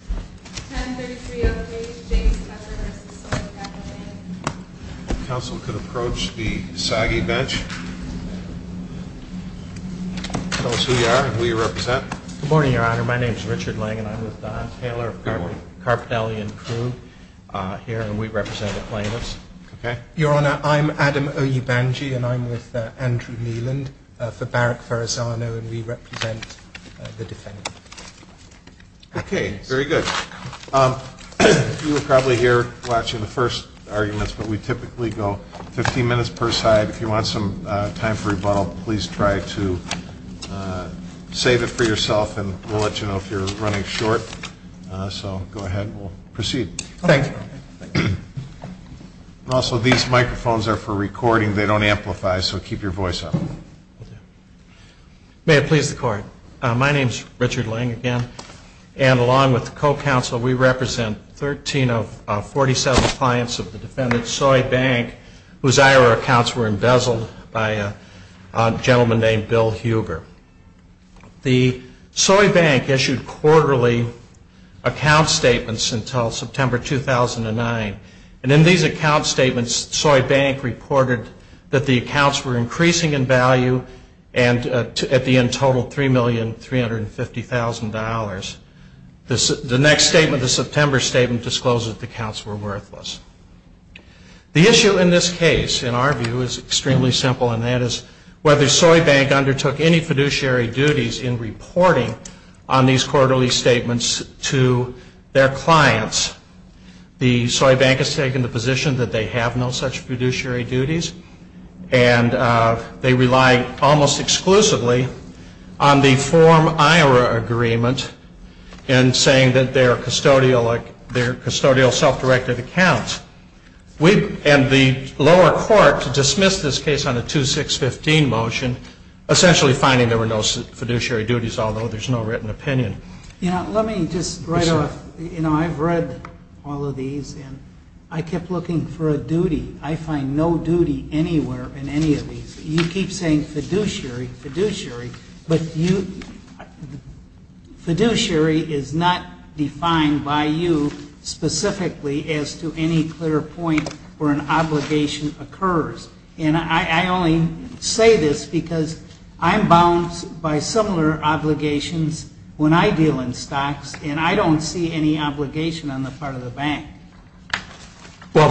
10-33-08 James Cuthbert v. Soy Capital Bank If the Council could approach the SAGI bench. Tell us who you are and who you represent. Good morning, Your Honor. My name is Richard Lang and I'm with Don Taylor of Carpellian Crew here and we represent the plaintiffs. Your Honor, I'm Adam Oyebanji and I'm with Andrew Neeland for Barrack Farasano and we represent the defendant. Okay. Very good. You were probably here watching the first arguments, but we typically go 15 minutes per side. If you want some time for rebuttal, please try to save it for yourself and we'll let you know if you're running short. So go ahead. We'll proceed. Thank you. Also, these microphones are for recording. They don't amplify, so keep your voice up. May it please the Court. My name is Richard Lang again and along with the Co-Counsel, we represent 13 of 47 clients of the defendant, Soy Bank, whose IRA accounts were embezzled by a gentleman named Bill Huber. The Soy Bank issued quarterly account statements until September 2009, and in these account statements, Soy Bank reported that the accounts were increasing in value and at the end totaled $3,350,000. The next statement, the September statement, discloses that the accounts were worthless. The issue in this case, in our view, is extremely simple, and that is whether Soy Bank undertook any fiduciary duties in reporting on these quarterly statements to their clients. The Soy Bank has taken the position that they have no such fiduciary duties, and they rely almost exclusively on the form IRA agreement in saying that they're custodial self-directed accounts. And the lower court dismissed this case on a 2-6-15 motion, essentially finding there were no fiduciary duties, although there's no written opinion. You know, let me just write off, you know, I've read all of these, and I kept looking for a duty. I find no duty anywhere in any of these. You keep saying fiduciary, fiduciary, but fiduciary is not defined by you specifically as to any clear point where an obligation occurs. And I only say this because I'm bound by similar obligations. When I deal in stocks, and I don't see any obligation on the part of the bank. Well,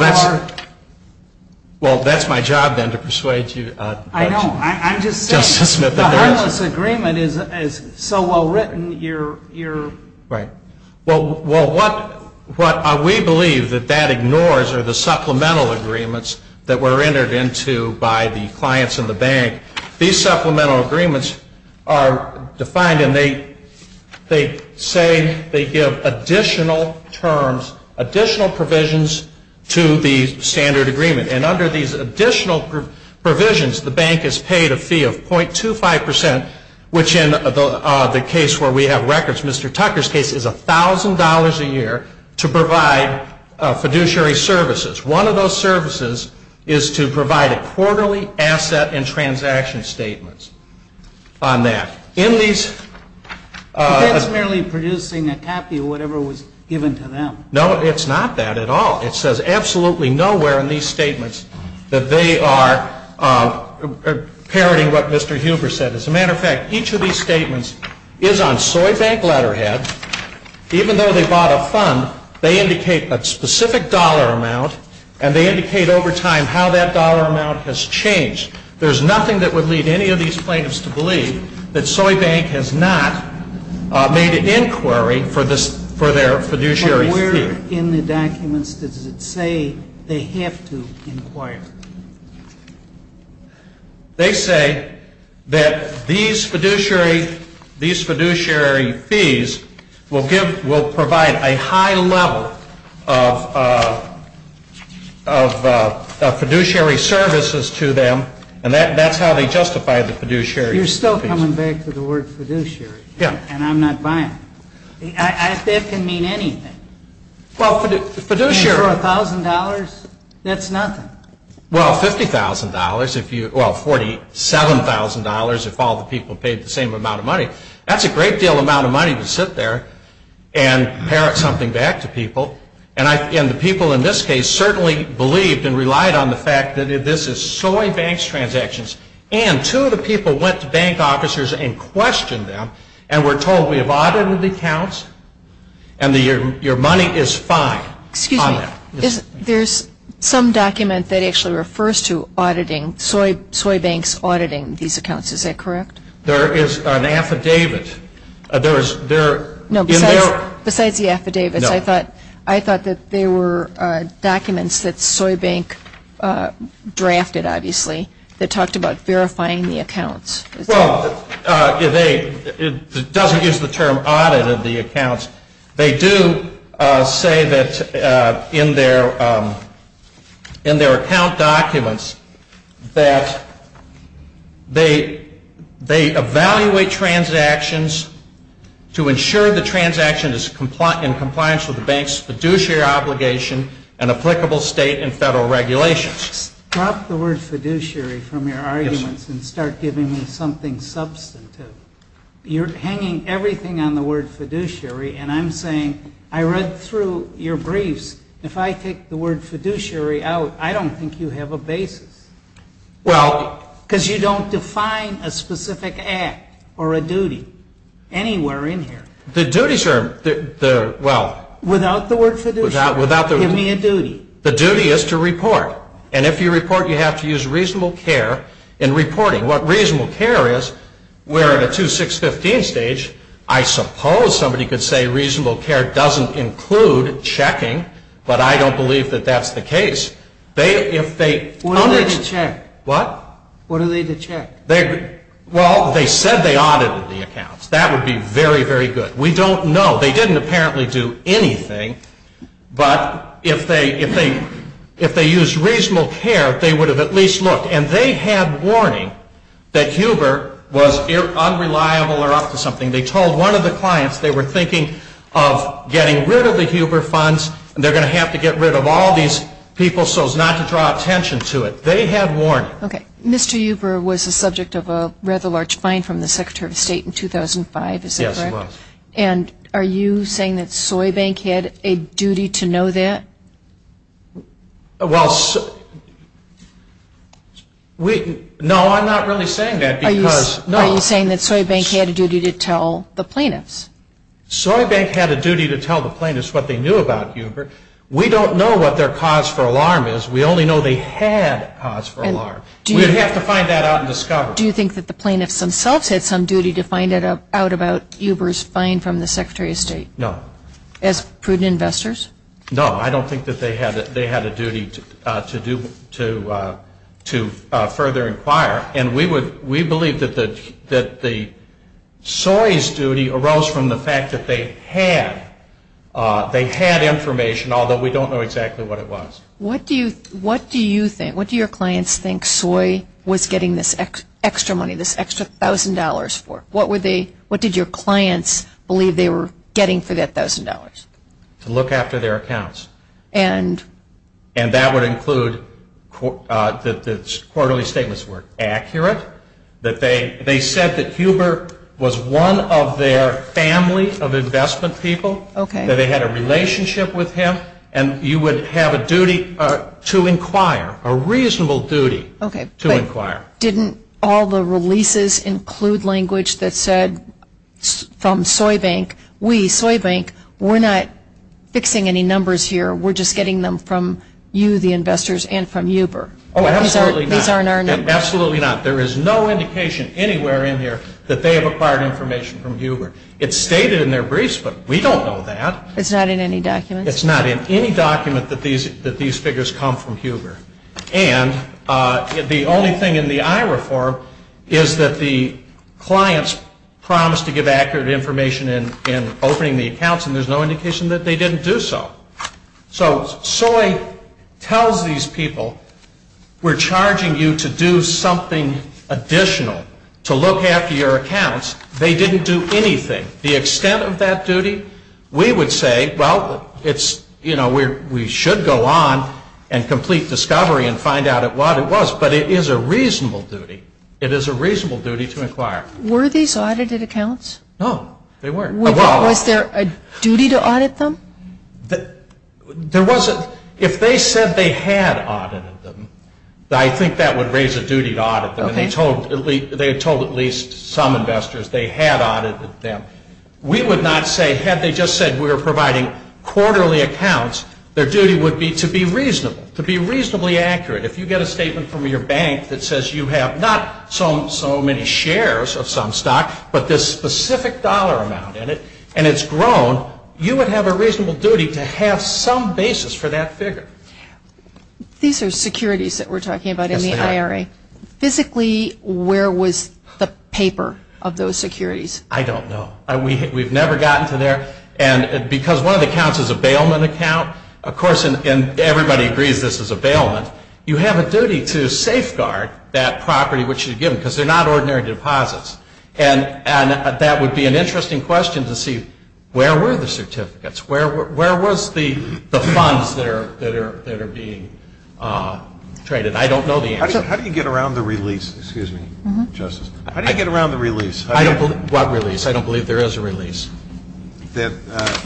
that's my job, then, to persuade you. I know. I'm just saying. The harmless agreement is so well written, you're. Right. Well, what we believe that that ignores are the supplemental agreements that were entered into by the clients in the bank. These supplemental agreements are defined, and they say they give additional terms, additional provisions to the standard agreement. And under these additional provisions, the bank is paid a fee of .25 percent, which in the case where we have records, Mr. Tucker's case, is $1,000 a year to provide fiduciary services. One of those services is to provide a quarterly asset and transaction statement on that. That's merely producing a copy of whatever was given to them. No, it's not that at all. It says absolutely nowhere in these statements that they are parroting what Mr. Huber said. As a matter of fact, each of these statements is on Soybank letterhead. Even though they bought a fund, they indicate a specific dollar amount, and they indicate over time how that dollar amount has changed. There's nothing that would lead any of these plaintiffs to believe that Soybank has not made an inquiry for their fiduciary fee. But where in the documents does it say they have to inquire? They say that these fiduciary fees will provide a high level of fiduciary services to them, and that's how they justify the fiduciary fees. You're still coming back to the word fiduciary. Yeah. And I'm not buying it. That can mean anything. Well, fiduciary. For $1,000, that's nothing. Well, $50,000, well, $47,000 if all the people paid the same amount of money. That's a great deal amount of money to sit there and parrot something back to people. And the people in this case certainly believed and relied on the fact that this is Soybank's transactions. And two of the people went to bank officers and questioned them and were told, well, we have audited the accounts, and your money is fine on that. Excuse me. There's some document that actually refers to auditing, Soybank's auditing these accounts. Is that correct? There is an affidavit. Besides the affidavits, I thought that there were documents that Soybank drafted, obviously, that talked about verifying the accounts. Well, it doesn't use the term audited the accounts. They do say that in their account documents that they evaluate transactions to ensure the transaction is in compliance with the bank's fiduciary obligation and applicable state and federal regulations. Drop the word fiduciary from your arguments and start giving me something substantive. You're hanging everything on the word fiduciary, and I'm saying I read through your briefs. If I take the word fiduciary out, I don't think you have a basis. Because you don't define a specific act or a duty anywhere in here. The duties are, well. Give me a duty. The duty is to report. And if you report, you have to use reasonable care in reporting. What reasonable care is, we're at a 2-6-15 stage. I suppose somebody could say reasonable care doesn't include checking, but I don't believe that that's the case. What are they to check? What? What are they to check? Well, they said they audited the accounts. That would be very, very good. We don't know. They didn't apparently do anything. But if they used reasonable care, they would have at least looked. And they had warning that Huber was unreliable or up to something. They told one of the clients they were thinking of getting rid of the Huber funds, and they're going to have to get rid of all these people so as not to draw attention to it. They had warning. Okay. Mr. Huber was the subject of a rather large fine from the Secretary of State in 2005. Is that correct? Yes, he was. And are you saying that Soybank had a duty to know that? Well, no, I'm not really saying that. Are you saying that Soybank had a duty to tell the plaintiffs? Soybank had a duty to tell the plaintiffs what they knew about Huber. We don't know what their cause for alarm is. We only know they had a cause for alarm. We'd have to find that out and discover it. Do you think that the plaintiffs themselves had some duty to find out about Huber's fine from the Secretary of State? No. As prudent investors? No, I don't think that they had a duty to further inquire. And we believe that Soy's duty arose from the fact that they had information, although we don't know exactly what it was. What do your clients think Soy was getting this extra money, this extra $1,000 for? What did your clients believe they were getting for that $1,000? To look after their accounts. And? And that would include that the quarterly statements were accurate, that they said that Huber was one of their family of investment people, that they had a relationship with him, and you would have a duty to inquire, a reasonable duty to inquire. Okay, but didn't all the releases include language that said from Soy Bank, we, Soy Bank, we're not fixing any numbers here. We're just getting them from you, the investors, and from Huber. Oh, absolutely not. These aren't our numbers. Absolutely not. There is no indication anywhere in here that they have acquired information from Huber. It's stated in their briefs, but we don't know that. It's not in any documents? It's not in any document that these figures come from Huber. And the only thing in the IRA form is that the clients promised to give accurate information in opening the accounts, and there's no indication that they didn't do so. So Soy tells these people, we're charging you to do something additional, to look after your accounts. They didn't do anything. The extent of that duty, we would say, well, it's, you know, we should go on and complete discovery and find out what it was, but it is a reasonable duty. It is a reasonable duty to inquire. Were these audited accounts? No, they weren't. Was there a duty to audit them? There wasn't. If they said they had audited them, I think that would raise a duty to audit them. They had told at least some investors they had audited them. We would not say, had they just said we were providing quarterly accounts, their duty would be to be reasonable, to be reasonably accurate. If you get a statement from your bank that says you have not so many shares of some stock, but this specific dollar amount in it, and it's grown, you would have a reasonable duty to have some basis for that figure. These are securities that we're talking about in the IRA. Physically, where was the paper of those securities? I don't know. We've never gotten to there. And because one of the accounts is a bailment account, of course, and everybody agrees this is a bailment, you have a duty to safeguard that property which you give them because they're not ordinary deposits. And that would be an interesting question to see, where were the certificates? Where was the funds that are being traded? I don't know the answer. How do you get around the release? Excuse me, Justice. How do you get around the release? What release? I don't believe there is a release. The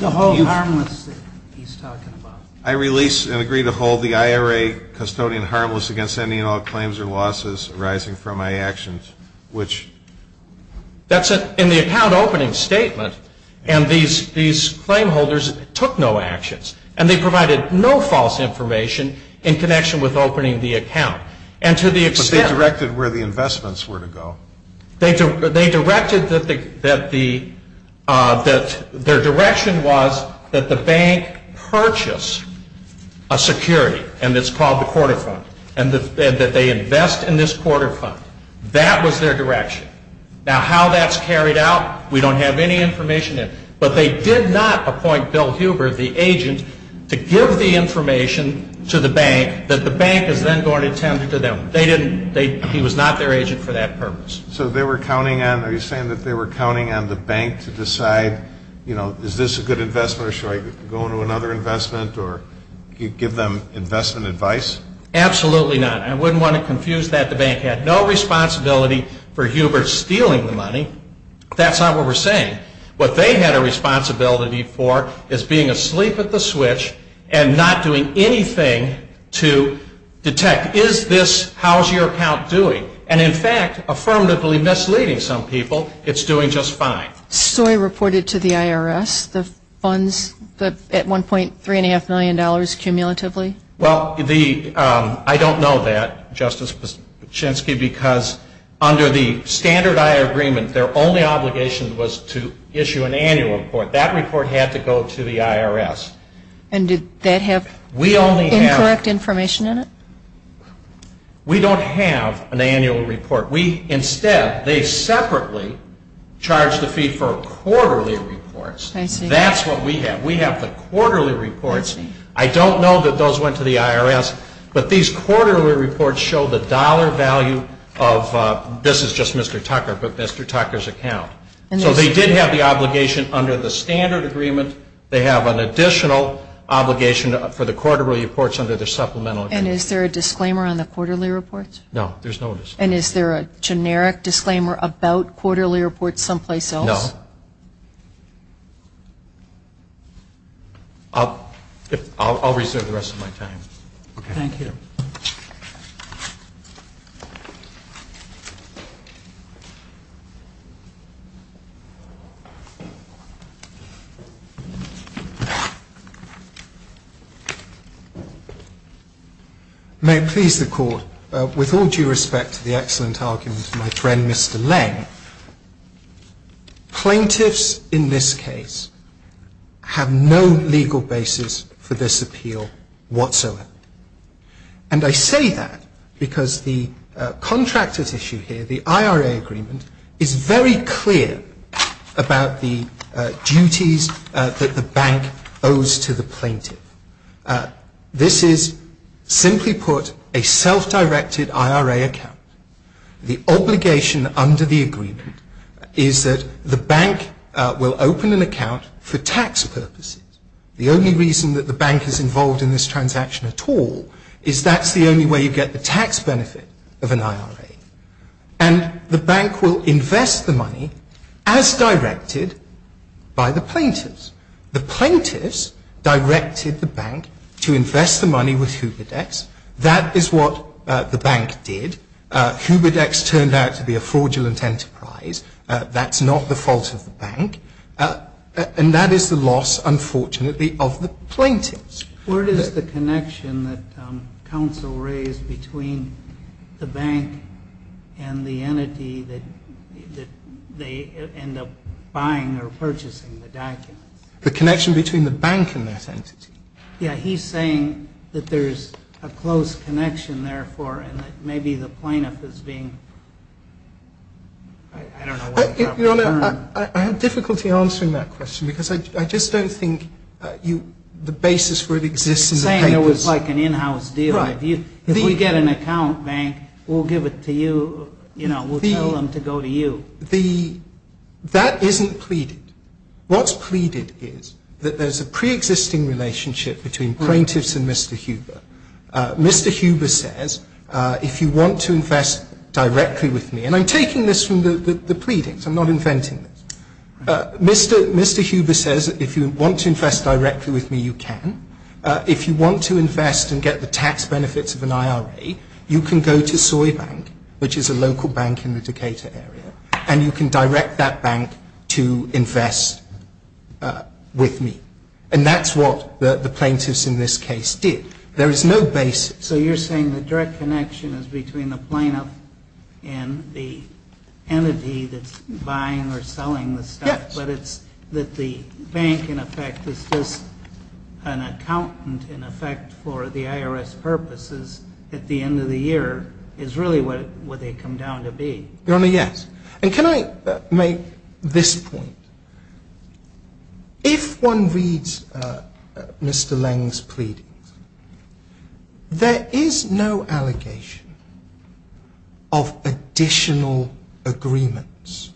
hold harmless that he's talking about. I release and agree to hold the IRA custodian harmless against any and all claims or losses arising from my actions, which? That's in the account opening statement, and these claim holders took no actions, and they provided no false information in connection with opening the account. But they directed where the investments were to go. They directed that their direction was that the bank purchase a security, and it's called the quarter fund, and that they invest in this quarter fund. That was their direction. Now, how that's carried out, we don't have any information in. But they did not appoint Bill Huber, the agent, to give the information to the bank that the bank is then going to tend to them. They didn't. He was not their agent for that purpose. So they were counting on the bank to decide, you know, is this a good investment or should I go into another investment or give them investment advice? Absolutely not. I wouldn't want to confuse that. The bank had no responsibility for Huber stealing the money. That's not what we're saying. What they had a responsibility for is being asleep at the switch and not doing anything to detect, is this, how's your account doing? And, in fact, affirmatively misleading some people, it's doing just fine. So I reported to the IRS the funds at $1.3.5 million cumulatively? Well, I don't know that, Justice Pachinksi, because under the Standard I Agreement their only obligation was to issue an annual report. That report had to go to the IRS. And did that have incorrect information in it? We don't have an annual report. Instead, they separately charged a fee for quarterly reports. That's what we have. We have the quarterly reports. I don't know that those went to the IRS, but these quarterly reports show the dollar value of, this is just Mr. Tucker, but Mr. Tucker's account. So they did have the obligation under the Standard Agreement. They have an additional obligation for the quarterly reports under the Supplemental Agreement. And is there a disclaimer on the quarterly reports? No, there's no disclaimer. And is there a generic disclaimer about quarterly reports someplace else? No. I'll reserve the rest of my time. Thank you. May it please the Court, with all due respect to the excellent argument of my friend Mr. Lange, plaintiffs in this case have no legal basis for this appeal whatsoever. And I say that because the contractors issue here, the IRA agreement, is very clear about the duties that the bank owes to the plaintiff. This is, simply put, a self-directed IRA account. The obligation under the agreement is that the bank will open an account for tax purposes. The only reason that the bank is involved in this transaction at all is that's the only way you get the tax benefit of an IRA. And the bank will invest the money as directed by the plaintiffs. The plaintiffs directed the bank to invest the money with Huberdex. That is what the bank did. Huberdex turned out to be a fraudulent enterprise. That's not the fault of the bank. And that is the loss, unfortunately, of the plaintiffs. Where does the connection that counsel raised between the bank and the entity that they end up buying or purchasing the documents? The connection between the bank and that entity? Yeah, he's saying that there's a close connection, therefore, and that maybe the plaintiff is being, I don't know what he's referring to. I have difficulty answering that question because I just don't think the basis for it exists in the papers. He's saying it was like an in-house deal. Right. If we get an account, bank, we'll give it to you, you know, we'll tell them to go to you. That isn't pleaded. What's pleaded is that there's a pre-existing relationship between plaintiffs and Mr. Huber. Mr. Huber says, if you want to invest directly with me, and I'm taking this from the pleadings, I'm not inventing this. Mr. Huber says, if you want to invest directly with me, you can. If you want to invest and get the tax benefits of an IRA, you can go to Soybank, which is a local bank in the Decatur area, and you can direct that bank to invest with me. And that's what the plaintiffs in this case did. There is no basis. So you're saying the direct connection is between the plaintiff and the entity that's buying or selling the stuff. Yes. But it's that the bank, in effect, is just an accountant, in effect, for the IRS purposes at the end of the year is really what they come down to be. Your Honor, yes. And can I make this point? If one reads Mr. Leng's pleadings, there is no allegation of additional agreements.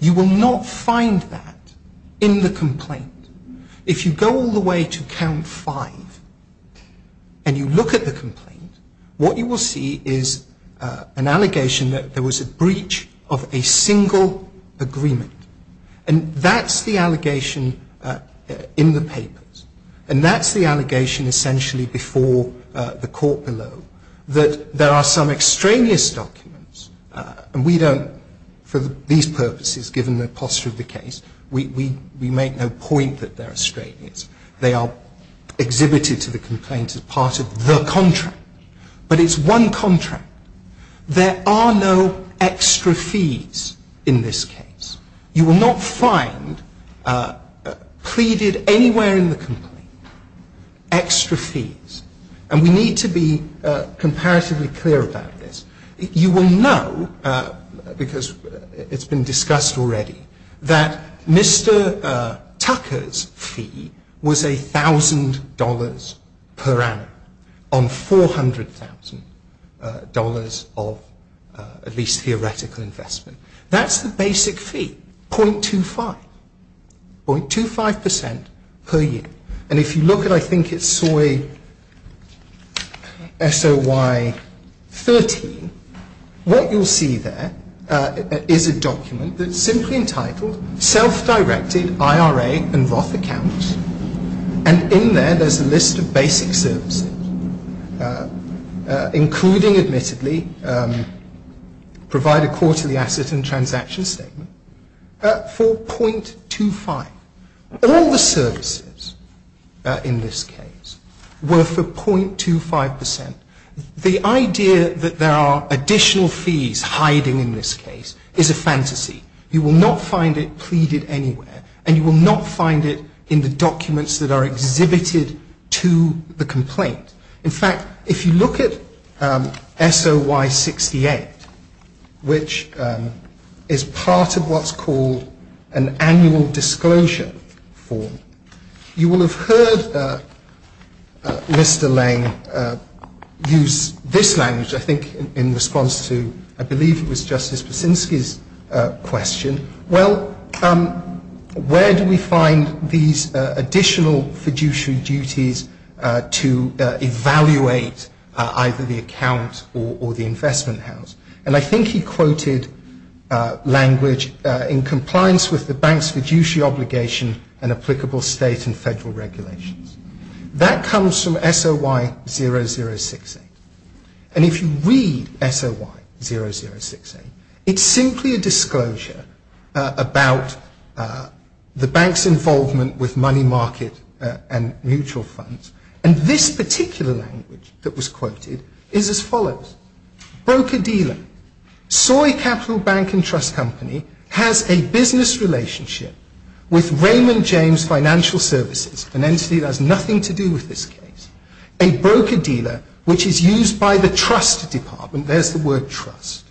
You will not find that in the complaint. If you go all the way to count five and you look at the complaint, what you will see is an allegation that there was a breach of a single agreement. And that's the allegation in the papers. And that's the allegation essentially before the court below, that there are some extraneous documents, and we don't, for these purposes, given the posture of the case, we make no point that they're extraneous. They are exhibited to the complaint as part of the contract. But it's one contract. There are no extra fees in this case. You will not find pleaded anywhere in the complaint extra fees. And we need to be comparatively clear about this. You will know, because it's been discussed already, that Mr. Tucker's fee was $1,000 per annum on $400,000 of at least theoretical investment. That's the basic fee, 0.25. 0.25% per year. And if you look at, I think it's SOY 13, what you'll see there is a document that's simply entitled Self-Directed IRA and Roth Accounts. And in there, there's a list of basic services, including, admittedly, provide a quarterly asset and transaction statement for 0.25. All the services in this case were for 0.25%. The idea that there are additional fees hiding in this case is a fantasy. You will not find it pleaded anywhere, and you will not find it in the documents that are exhibited to the complaint. In fact, if you look at SOY 68, which is part of what's called an annual disclosure form, you will have heard Mr. Lange use this language, I think, in response to, I believe it was Justice Buczynski's question. Well, where do we find these additional fiduciary duties to evaluate either the account or the investment house? And I think he quoted language in compliance with the bank's fiduciary obligation and applicable state and federal regulations. That comes from SOY 0068. And if you read SOY 0068, it's simply a disclosure about the bank's involvement with money market and mutual funds. And this particular language that was quoted is as follows. Broker-dealer. Soy Capital Bank and Trust Company has a business relationship with Raymond James Financial Services, an entity that has nothing to do with this case. A broker-dealer, which is used by the trust department, there's the word trust,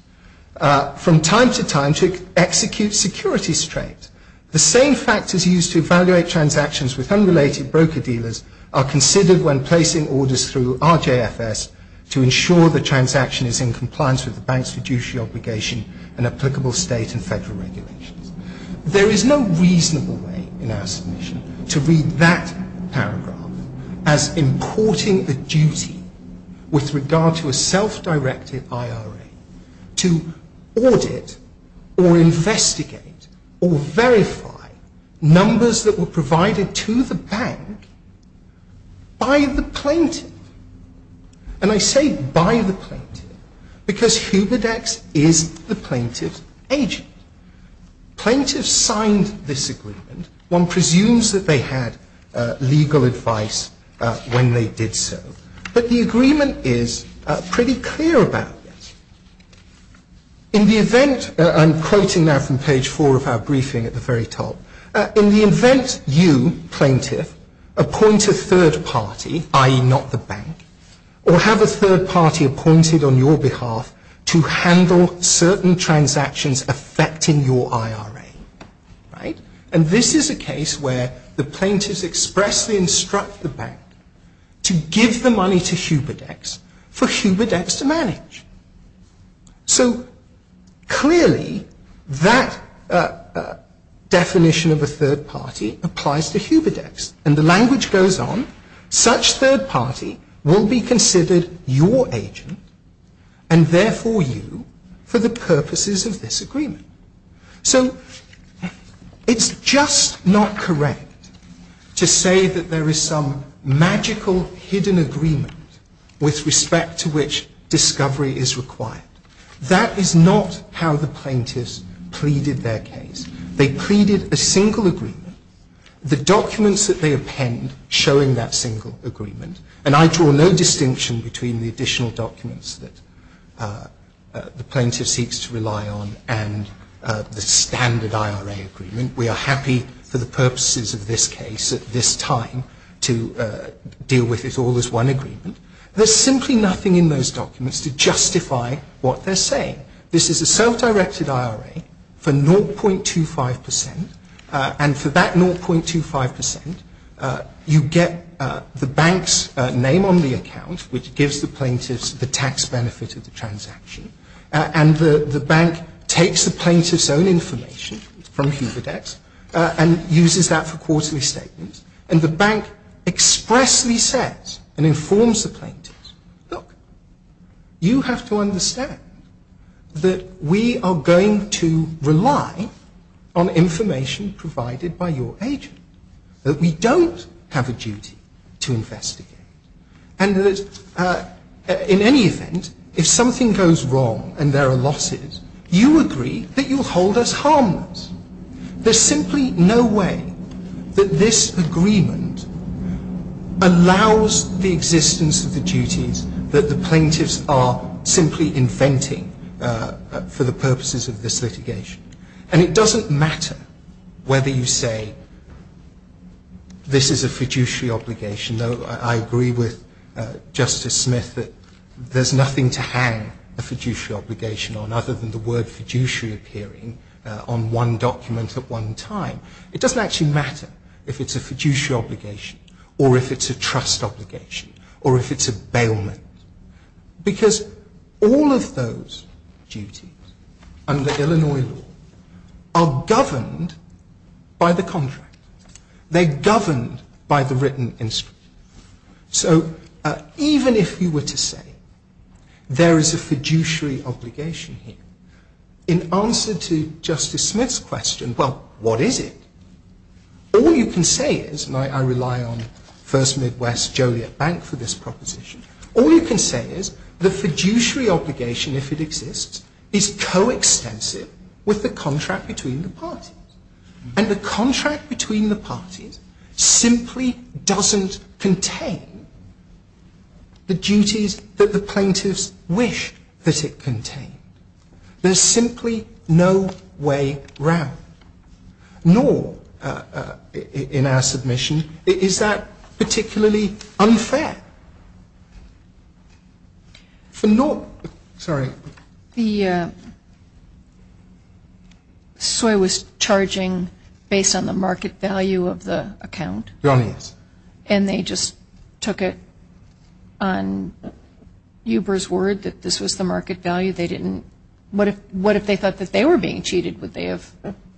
from time to time to execute securities trades. The same factors used to evaluate transactions with unrelated broker-dealers are considered when placing orders through RJFS to ensure the transaction is in compliance with the bank's fiduciary obligation and applicable state and federal regulations. There is no reasonable way in our submission to read that paragraph as importing the duty with regard to a self-directed IRA to audit or investigate or verify numbers that were provided to the bank by the plaintiff. And I say by the plaintiff because Huberdex is the plaintiff's agent. Plaintiffs signed this agreement. One presumes that they had legal advice when they did so. But the agreement is pretty clear about this. In the event, I'm quoting now from page 4 of our briefing at the very top, in the event you, plaintiff, appoint a third party, i.e. not the bank, or have a third party appointed on your behalf to handle certain transactions affecting your IRA, and this is a case where the plaintiffs expressly instruct the bank to give the money to Huberdex for Huberdex to manage. So, clearly, that definition of a third party applies to Huberdex. And the language goes on, such third party will be considered your agent and therefore you for the purposes of this agreement. So, it's just not correct to say that there is some magical hidden agreement with respect to which discovery is required. That is not how the plaintiffs pleaded their case. They pleaded a single agreement. The documents that they append showing that single agreement, and I draw no distinction between the additional documents that the plaintiff seeks to rely on and the standard IRA agreement. We are happy for the purposes of this case at this time to deal with it all as one agreement. There's simply nothing in those documents to justify what they're saying. This is a self-directed IRA for 0.25%, and for that 0.25%, you get the bank's name on the account, which gives the plaintiffs the tax benefit of the transaction, and the bank takes the plaintiffs' own information from Huberdex and uses that for quarterly statements, and the bank expressly says and informs the plaintiffs, look, you have to understand that we are going to rely on information provided by your agent, that we don't have a duty to investigate, and that in any event, if something goes wrong and there are losses, you agree that you'll hold us harmless. There's simply no way that this agreement allows the existence of the duties that the plaintiffs are simply inventing for the purposes of this litigation. And it doesn't matter whether you say this is a fiduciary obligation, though I agree with Justice Smith that there's nothing to hang a fiduciary obligation on other than the word fiduciary appearing on one document at one time. It doesn't actually matter if it's a fiduciary obligation, or if it's a trust obligation, or if it's a bailment, because all of those duties under Illinois law are governed by the contract. They're governed by the written instrument. So even if you were to say there is a fiduciary obligation here, in answer to Justice Smith's question, well, what is it? All you can say is, and I rely on First Midwest Joliet Bank for this proposition, all you can say is the fiduciary obligation, if it exists, is coextensive with the contract between the parties. And the contract between the parties simply doesn't contain the duties that the plaintiffs wish that it contained. There's simply no way around. Nor, in our submission, is that particularly unfair. The SOI was charging based on the market value of the account. And they just took it on Uber's word that this was the market value. What if they thought that they were being cheated? Would they have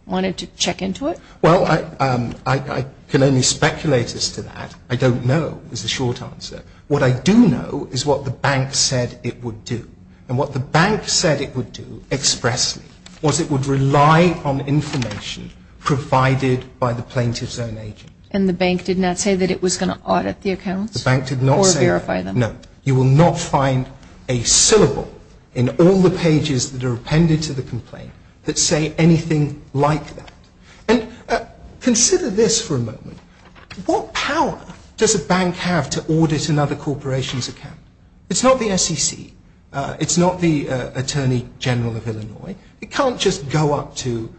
wanted to check into it? Well, I can only speculate as to that. I don't know, is the short answer. What I do know is what the bank said it would do. And what the bank said it would do expressly was it would rely on information provided by the plaintiff's own agent. And the bank did not say that it was going to audit the accounts? The bank did not say that. Or verify them. No. You will not find a syllable in all the pages that are appended to the complaint that say anything like that. And consider this for a moment. What power does a bank have to audit another corporation's account? It's not the SEC. It's not the Attorney General of Illinois. It can't just go up to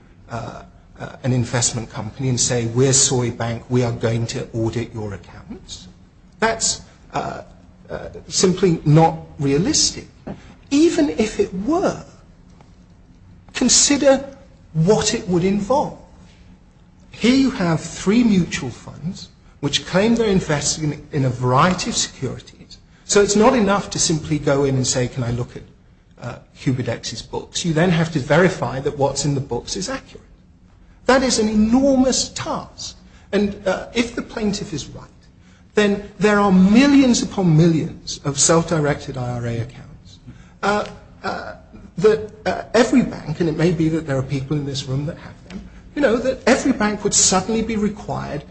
an investment company and say, we're SOI Bank. We are going to audit your accounts. That's simply not realistic. Even if it were, consider what it would involve. Here you have three mutual funds which claim they're investing in a variety of securities. So it's not enough to simply go in and say, can I look at QBDX's books? You then have to verify that what's in the books is accurate. That is an enormous task. And if the plaintiff is right, then there are millions upon millions of self-directed IRA accounts that every bank, and it may be that there are people in this room that have them, that every bank would suddenly be required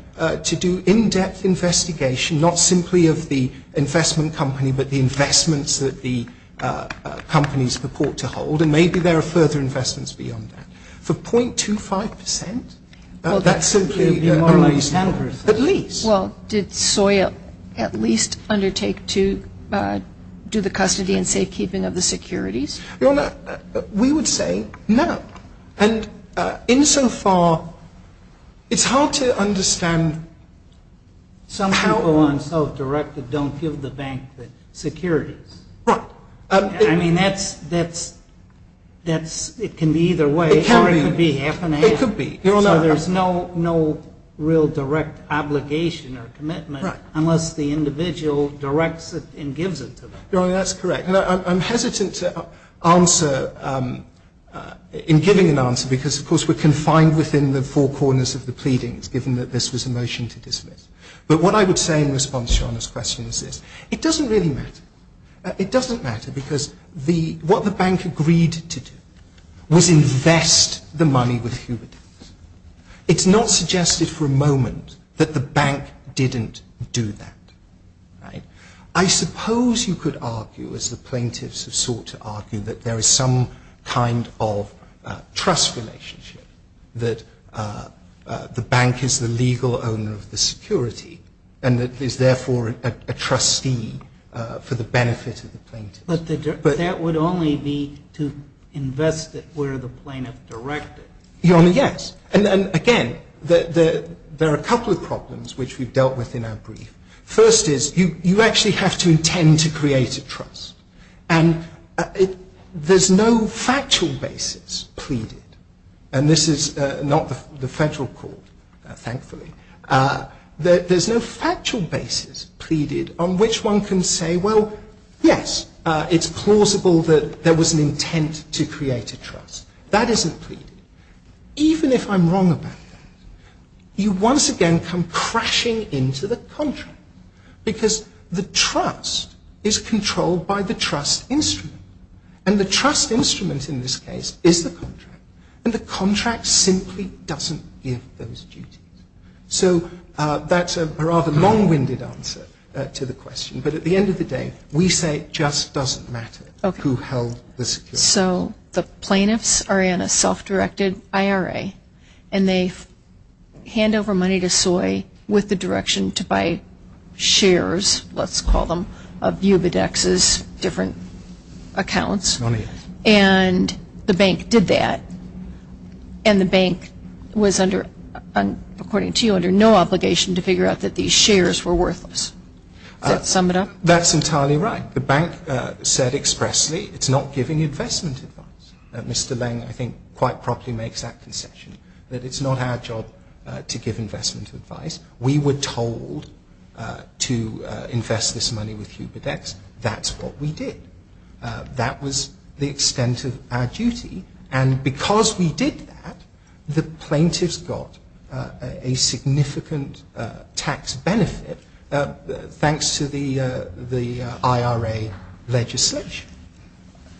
to do in-depth investigation, not simply of the investment company but the investments that the companies purport to hold. And maybe there are further investments beyond that. For 0.25 percent, that's simply unreasonable. Well, did SOIA at least undertake to do the custody and safekeeping of the securities? Your Honor, we would say no. And insofar, it's hard to understand how. Some people on self-directed don't give the bank the securities. Right. I mean, that's, that's, it can be either way. Or it could be half and half. It could be. So there's no real direct obligation or commitment unless the individual directs it and gives it to them. Your Honor, that's correct. I'm hesitant to answer, in giving an answer, because, of course, we're confined within the four corners of the pleadings, given that this was a motion to dismiss. But what I would say in response to Your Honor's question is this. It doesn't really matter. It doesn't matter because the, what the bank agreed to do was invest the money with Hubert Davis. It's not suggested for a moment that the bank didn't do that. Right. I suppose you could argue, as the plaintiffs have sought to argue, that there is some kind of trust relationship, that the bank is the legal owner of the security and is therefore a trustee for the benefit of the plaintiffs. But that would only be to invest it where the plaintiff directed it. Your Honor, yes. And, again, there are a couple of problems which we've dealt with in our brief. First is you actually have to intend to create a trust. And there's no factual basis pleaded. And this is not the federal court, thankfully. There's no factual basis pleaded on which one can say, well, yes, it's plausible that there was an intent to create a trust. That isn't pleaded. Even if I'm wrong about that, you once again come crashing into the contract because the trust is controlled by the trust instrument. And the trust instrument in this case is the contract. And the contract simply doesn't give those duties. So that's a rather long-winded answer to the question. But at the end of the day, we say it just doesn't matter who held the security. So the plaintiffs are in a self-directed IRA, and they hand over money to SOI with the direction to buy shares, let's call them, of Ubidex's different accounts. And the bank did that. And the bank was, according to you, under no obligation to figure out that these shares were worthless. Does that sum it up? That's entirely right. The bank said expressly it's not giving investment advice. Mr. Leng, I think, quite properly makes that concession, that it's not our job to give investment advice. We were told to invest this money with Ubidex. That's what we did. That was the extent of our duty. And because we did that, the plaintiffs got a significant tax benefit thanks to the IRA legislation.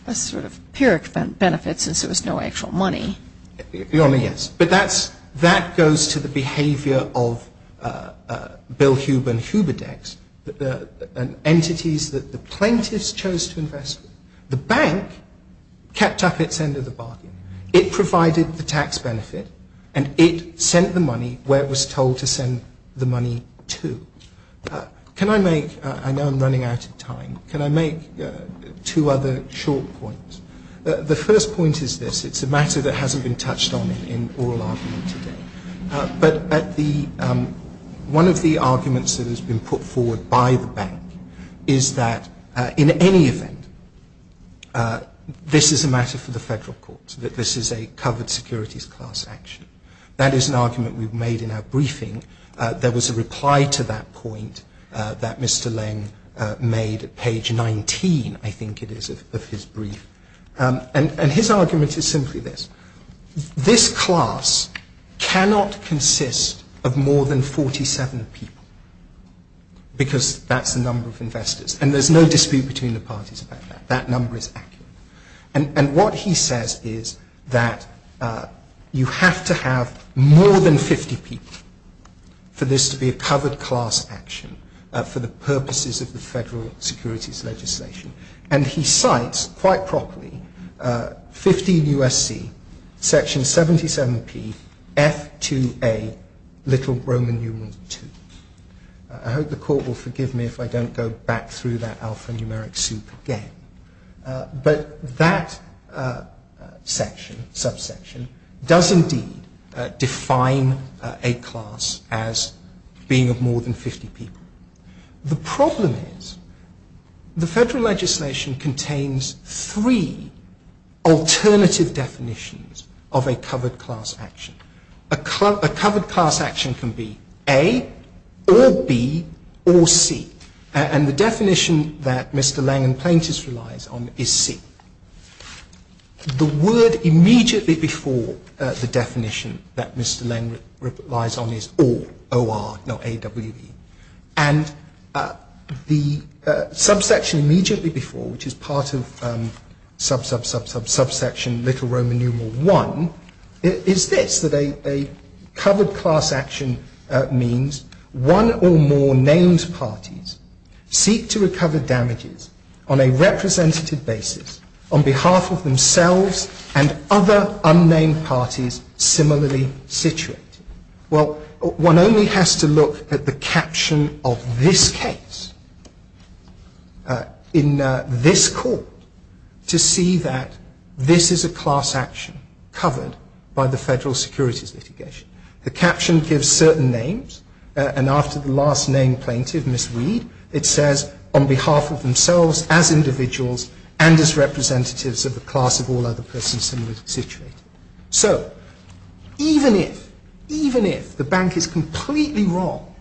A sort of pyrrhic benefit since there was no actual money. Yes. But that goes to the behavior of Bill Hube and Ubidex, entities that the plaintiffs chose to invest with. The bank kept up its end of the bargain. It provided the tax benefit, and it sent the money where it was told to send the money to. Can I make, I know I'm running out of time, can I make two other short points? The first point is this. It's a matter that hasn't been touched on in oral argument today. But one of the arguments that has been put forward by the bank is that, in any event, this is a matter for the federal courts, that this is a covered securities class action. That is an argument we've made in our briefing. There was a reply to that point that Mr. Leng made at page 19, I think it is, of his brief. And his argument is simply this. This class cannot consist of more than 47 people because that's the number of investors. And there's no dispute between the parties about that. That number is accurate. And what he says is that you have to have more than 50 people for this to be a covered class action for the purposes of the federal securities legislation. And he cites, quite properly, 15 U.S.C., section 77P, F2A, little Roman numerals 2. I hope the court will forgive me if I don't go back through that alphanumeric soup again. But that section, subsection, does indeed define a class as being of more than 50 people. The problem is the federal legislation contains three alternative definitions of a covered class action. A covered class action can be A or B or C. And the definition that Mr. Leng and plaintiffs relies on is C. The word immediately before the definition that Mr. Leng relies on is or, O-R, not A-W-E. And the subsection immediately before, which is part of sub, sub, sub, sub, subsection little Roman numeral 1, is this, that a covered class action means one or more names parties seek to recover damages on a representative basis on behalf of themselves and other unnamed parties similarly situated. Well, one only has to look at the caption of this case in this court to see that this is a class action covered by the federal securities litigation. The caption gives certain names and after the last name plaintiff, Ms. Reed, it says on behalf of themselves as individuals and as representatives of the class of all other persons similarly situated. So, even if, even if the bank is completely wrong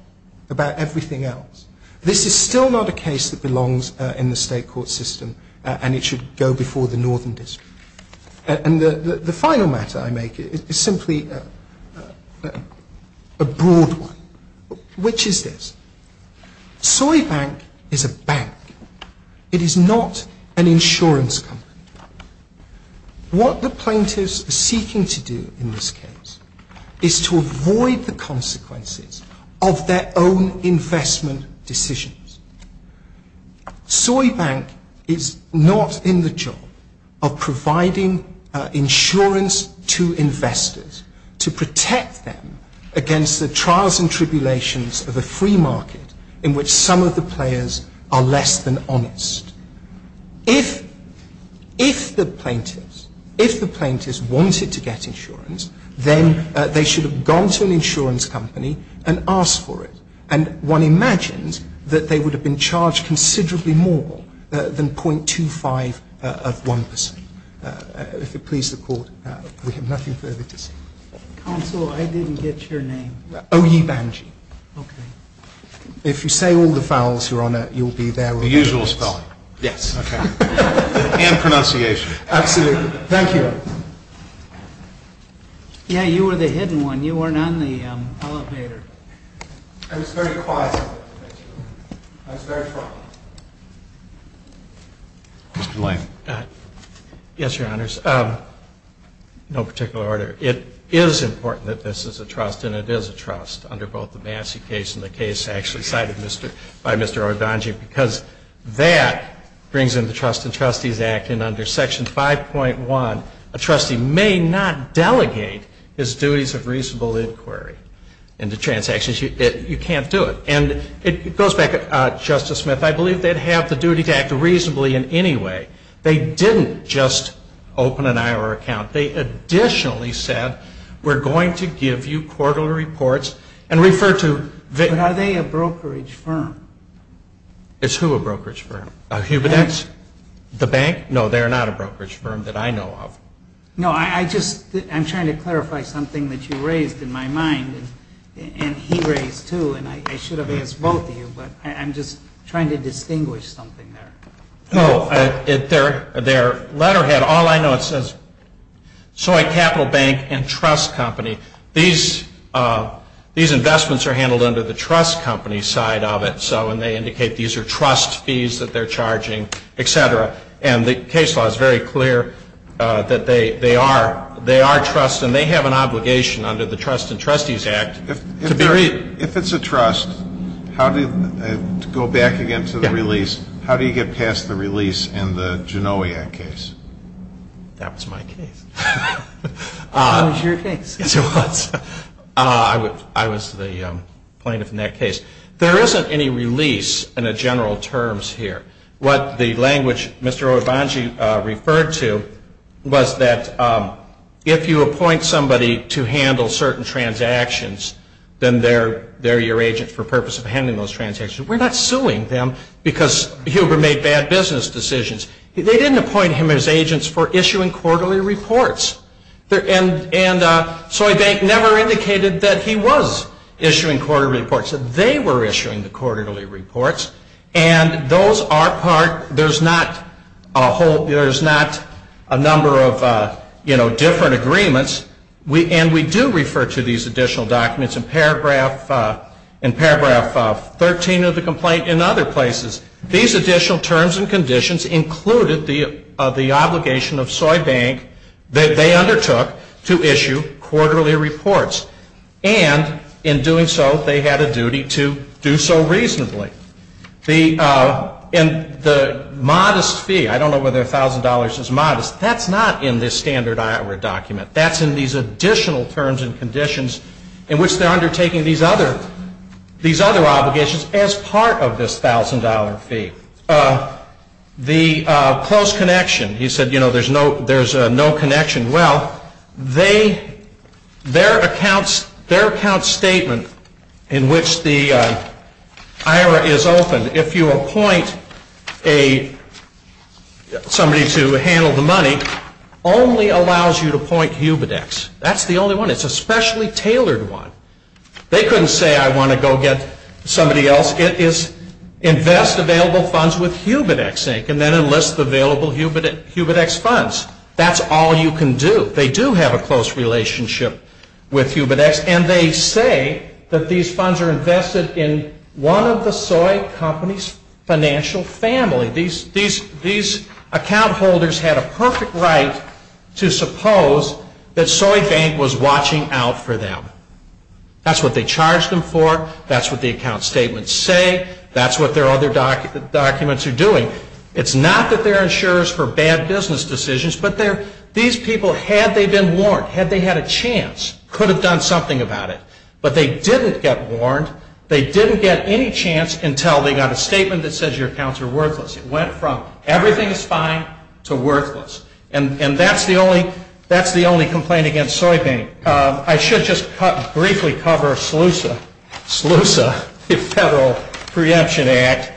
about everything else, this is still not a case that belongs in the state court system and it should go before the Northern District. And the final matter I make is simply a broad one, which is this. Soybank is a bank. It is not an insurance company. What the plaintiffs are seeking to do in this case is to avoid the consequences of their own investment decisions. Soybank is not in the job of providing insurance to investors to protect them against the trials and tribulations of a free market in which some of the players are less than honest. If, if the plaintiffs, if the plaintiffs wanted to get insurance, then they should have gone to an insurance company and asked for it. And one imagines that they would have been charged considerably more than 0.25 of 1%. If it pleases the court, we have nothing further to say. Counsel, I didn't get your name. Oyee Banjee. Okay. If you say all the vowels, Your Honor, you'll be there. The usual spelling. Yes. Okay. And pronunciation. Absolutely. Thank you. Yeah, you were the hidden one. You weren't on the elevator. I was very quiet. I was very quiet. Mr. Lane. Yes, Your Honors. No particular order. It is important that this is a trust and it is a trust under both the Massey case and the case actually cited by Mr. Oyee Banjee because that brings in the Trust and Trustees Act. And under Section 5.1, a trustee may not delegate his duties of reasonable inquiry into transactions. You can't do it. And it goes back, Justice Smith, I believe they'd have the duty to act reasonably in any way. They didn't just open an IRR account. They additionally said, we're going to give you quarterly reports and refer to them. But are they a brokerage firm? It's who a brokerage firm? Hubedeck's? The bank? No, they're not a brokerage firm that I know of. No, I just, I'm trying to clarify something that you raised in my mind and he raised too and I should have asked both of you, but I'm just trying to distinguish something there. No, their letterhead, all I know it says, Soy Capital Bank and Trust Company. These investments are handled under the Trust Company side of it, and they indicate these are trust fees that they're charging, et cetera. And the case law is very clear that they are trust and they have an obligation under the Trust and Trustees Act. If it's a trust, to go back again to the release, how do you get past the release in the Genoa Act case? That was my case. That was your case? Yes, it was. I was the plaintiff in that case. There isn't any release in the general terms here. What the language Mr. Obanji referred to was that if you appoint somebody to handle certain transactions, then they're your agent for the purpose of handling those transactions. We're not suing them because Huber made bad business decisions. They didn't appoint him as agents for issuing quarterly reports. And Soy Bank never indicated that he was issuing quarterly reports. They were issuing the quarterly reports. And those are part, there's not a whole, there's not a number of, you know, different agreements. And we do refer to these additional documents in paragraph 13 of the complaint and other places. These additional terms and conditions included the obligation of Soy Bank that they undertook to issue quarterly reports. And in doing so, they had a duty to do so reasonably. The modest fee, I don't know whether $1,000 is modest, that's not in this standard document. That's in these additional terms and conditions in which they're undertaking these other obligations as part of this $1,000 fee. The close connection, he said, you know, there's no connection. Well, their account statement in which the IRA is open, if you appoint somebody to handle the money, only allows you to appoint Huberdex. That's the only one. It's a specially tailored one. They couldn't say, I want to go get somebody else. It is invest available funds with Huberdex, Inc., and then enlist the available Huberdex funds. That's all you can do. They do have a close relationship with Huberdex. And they say that these funds are invested in one of the Soy Company's financial family. These account holders had a perfect right to suppose that Soy Bank was watching out for them. That's what they charged them for. That's what the account statements say. That's what their other documents are doing. It's not that they're insurers for bad business decisions, but these people, had they been warned, had they had a chance, could have done something about it. But they didn't get warned. They didn't get any chance until they got a statement that says your accounts are worthless. It went from everything is fine to worthless. And that's the only complaint against Soy Bank. I should just briefly cover SLUSA, the Federal Preemption Act.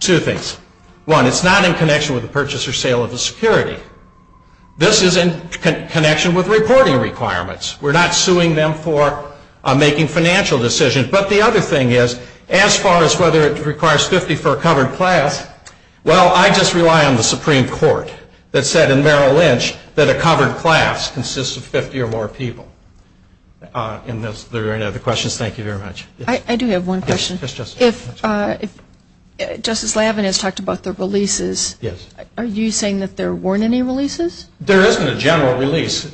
Two things. One, it's not in connection with the purchase or sale of a security. This is in connection with reporting requirements. We're not suing them for making financial decisions. But the other thing is, as far as whether it requires 50 for a covered class, well, I just rely on the Supreme Court that said in Merrill Lynch that a covered class consists of 50 or more people. Are there any other questions? Thank you very much. I do have one question. Yes, Justice. If Justice Lavin has talked about the releases, are you saying that there weren't any releases? There isn't a general release.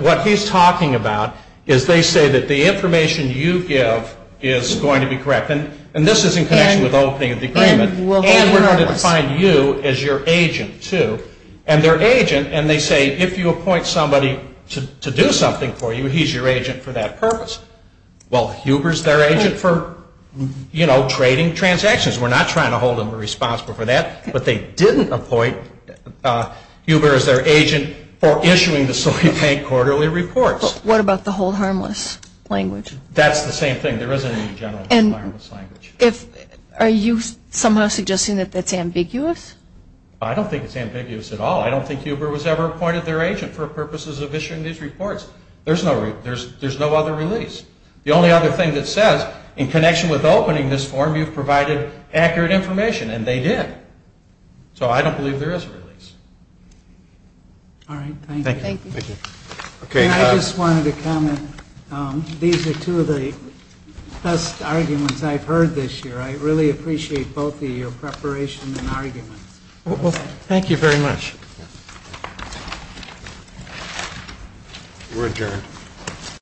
What he's talking about is they say that the information you give is going to be correct. And this is in connection with opening the agreement. And we're going to define you as your agent, too. And their agent, and they say if you appoint somebody to do something for you, he's your agent for that purpose. Well, Huber's their agent for, you know, trading transactions. We're not trying to hold them responsible for that. But they didn't appoint Huber as their agent for issuing the Soy Bank quarterly reports. What about the hold harmless language? That's the same thing. There isn't a general hold harmless language. Are you somehow suggesting that that's ambiguous? I don't think it's ambiguous at all. I don't think Huber was ever appointed their agent for purposes of issuing these reports. There's no other release. The only other thing that says, in connection with opening this form, you've provided accurate information. And they did. So I don't believe there is a release. All right. Thank you. Thank you. I just wanted to comment. These are two of the best arguments I've heard this year. I really appreciate both your preparation and arguments. Thank you very much. We're adjourned.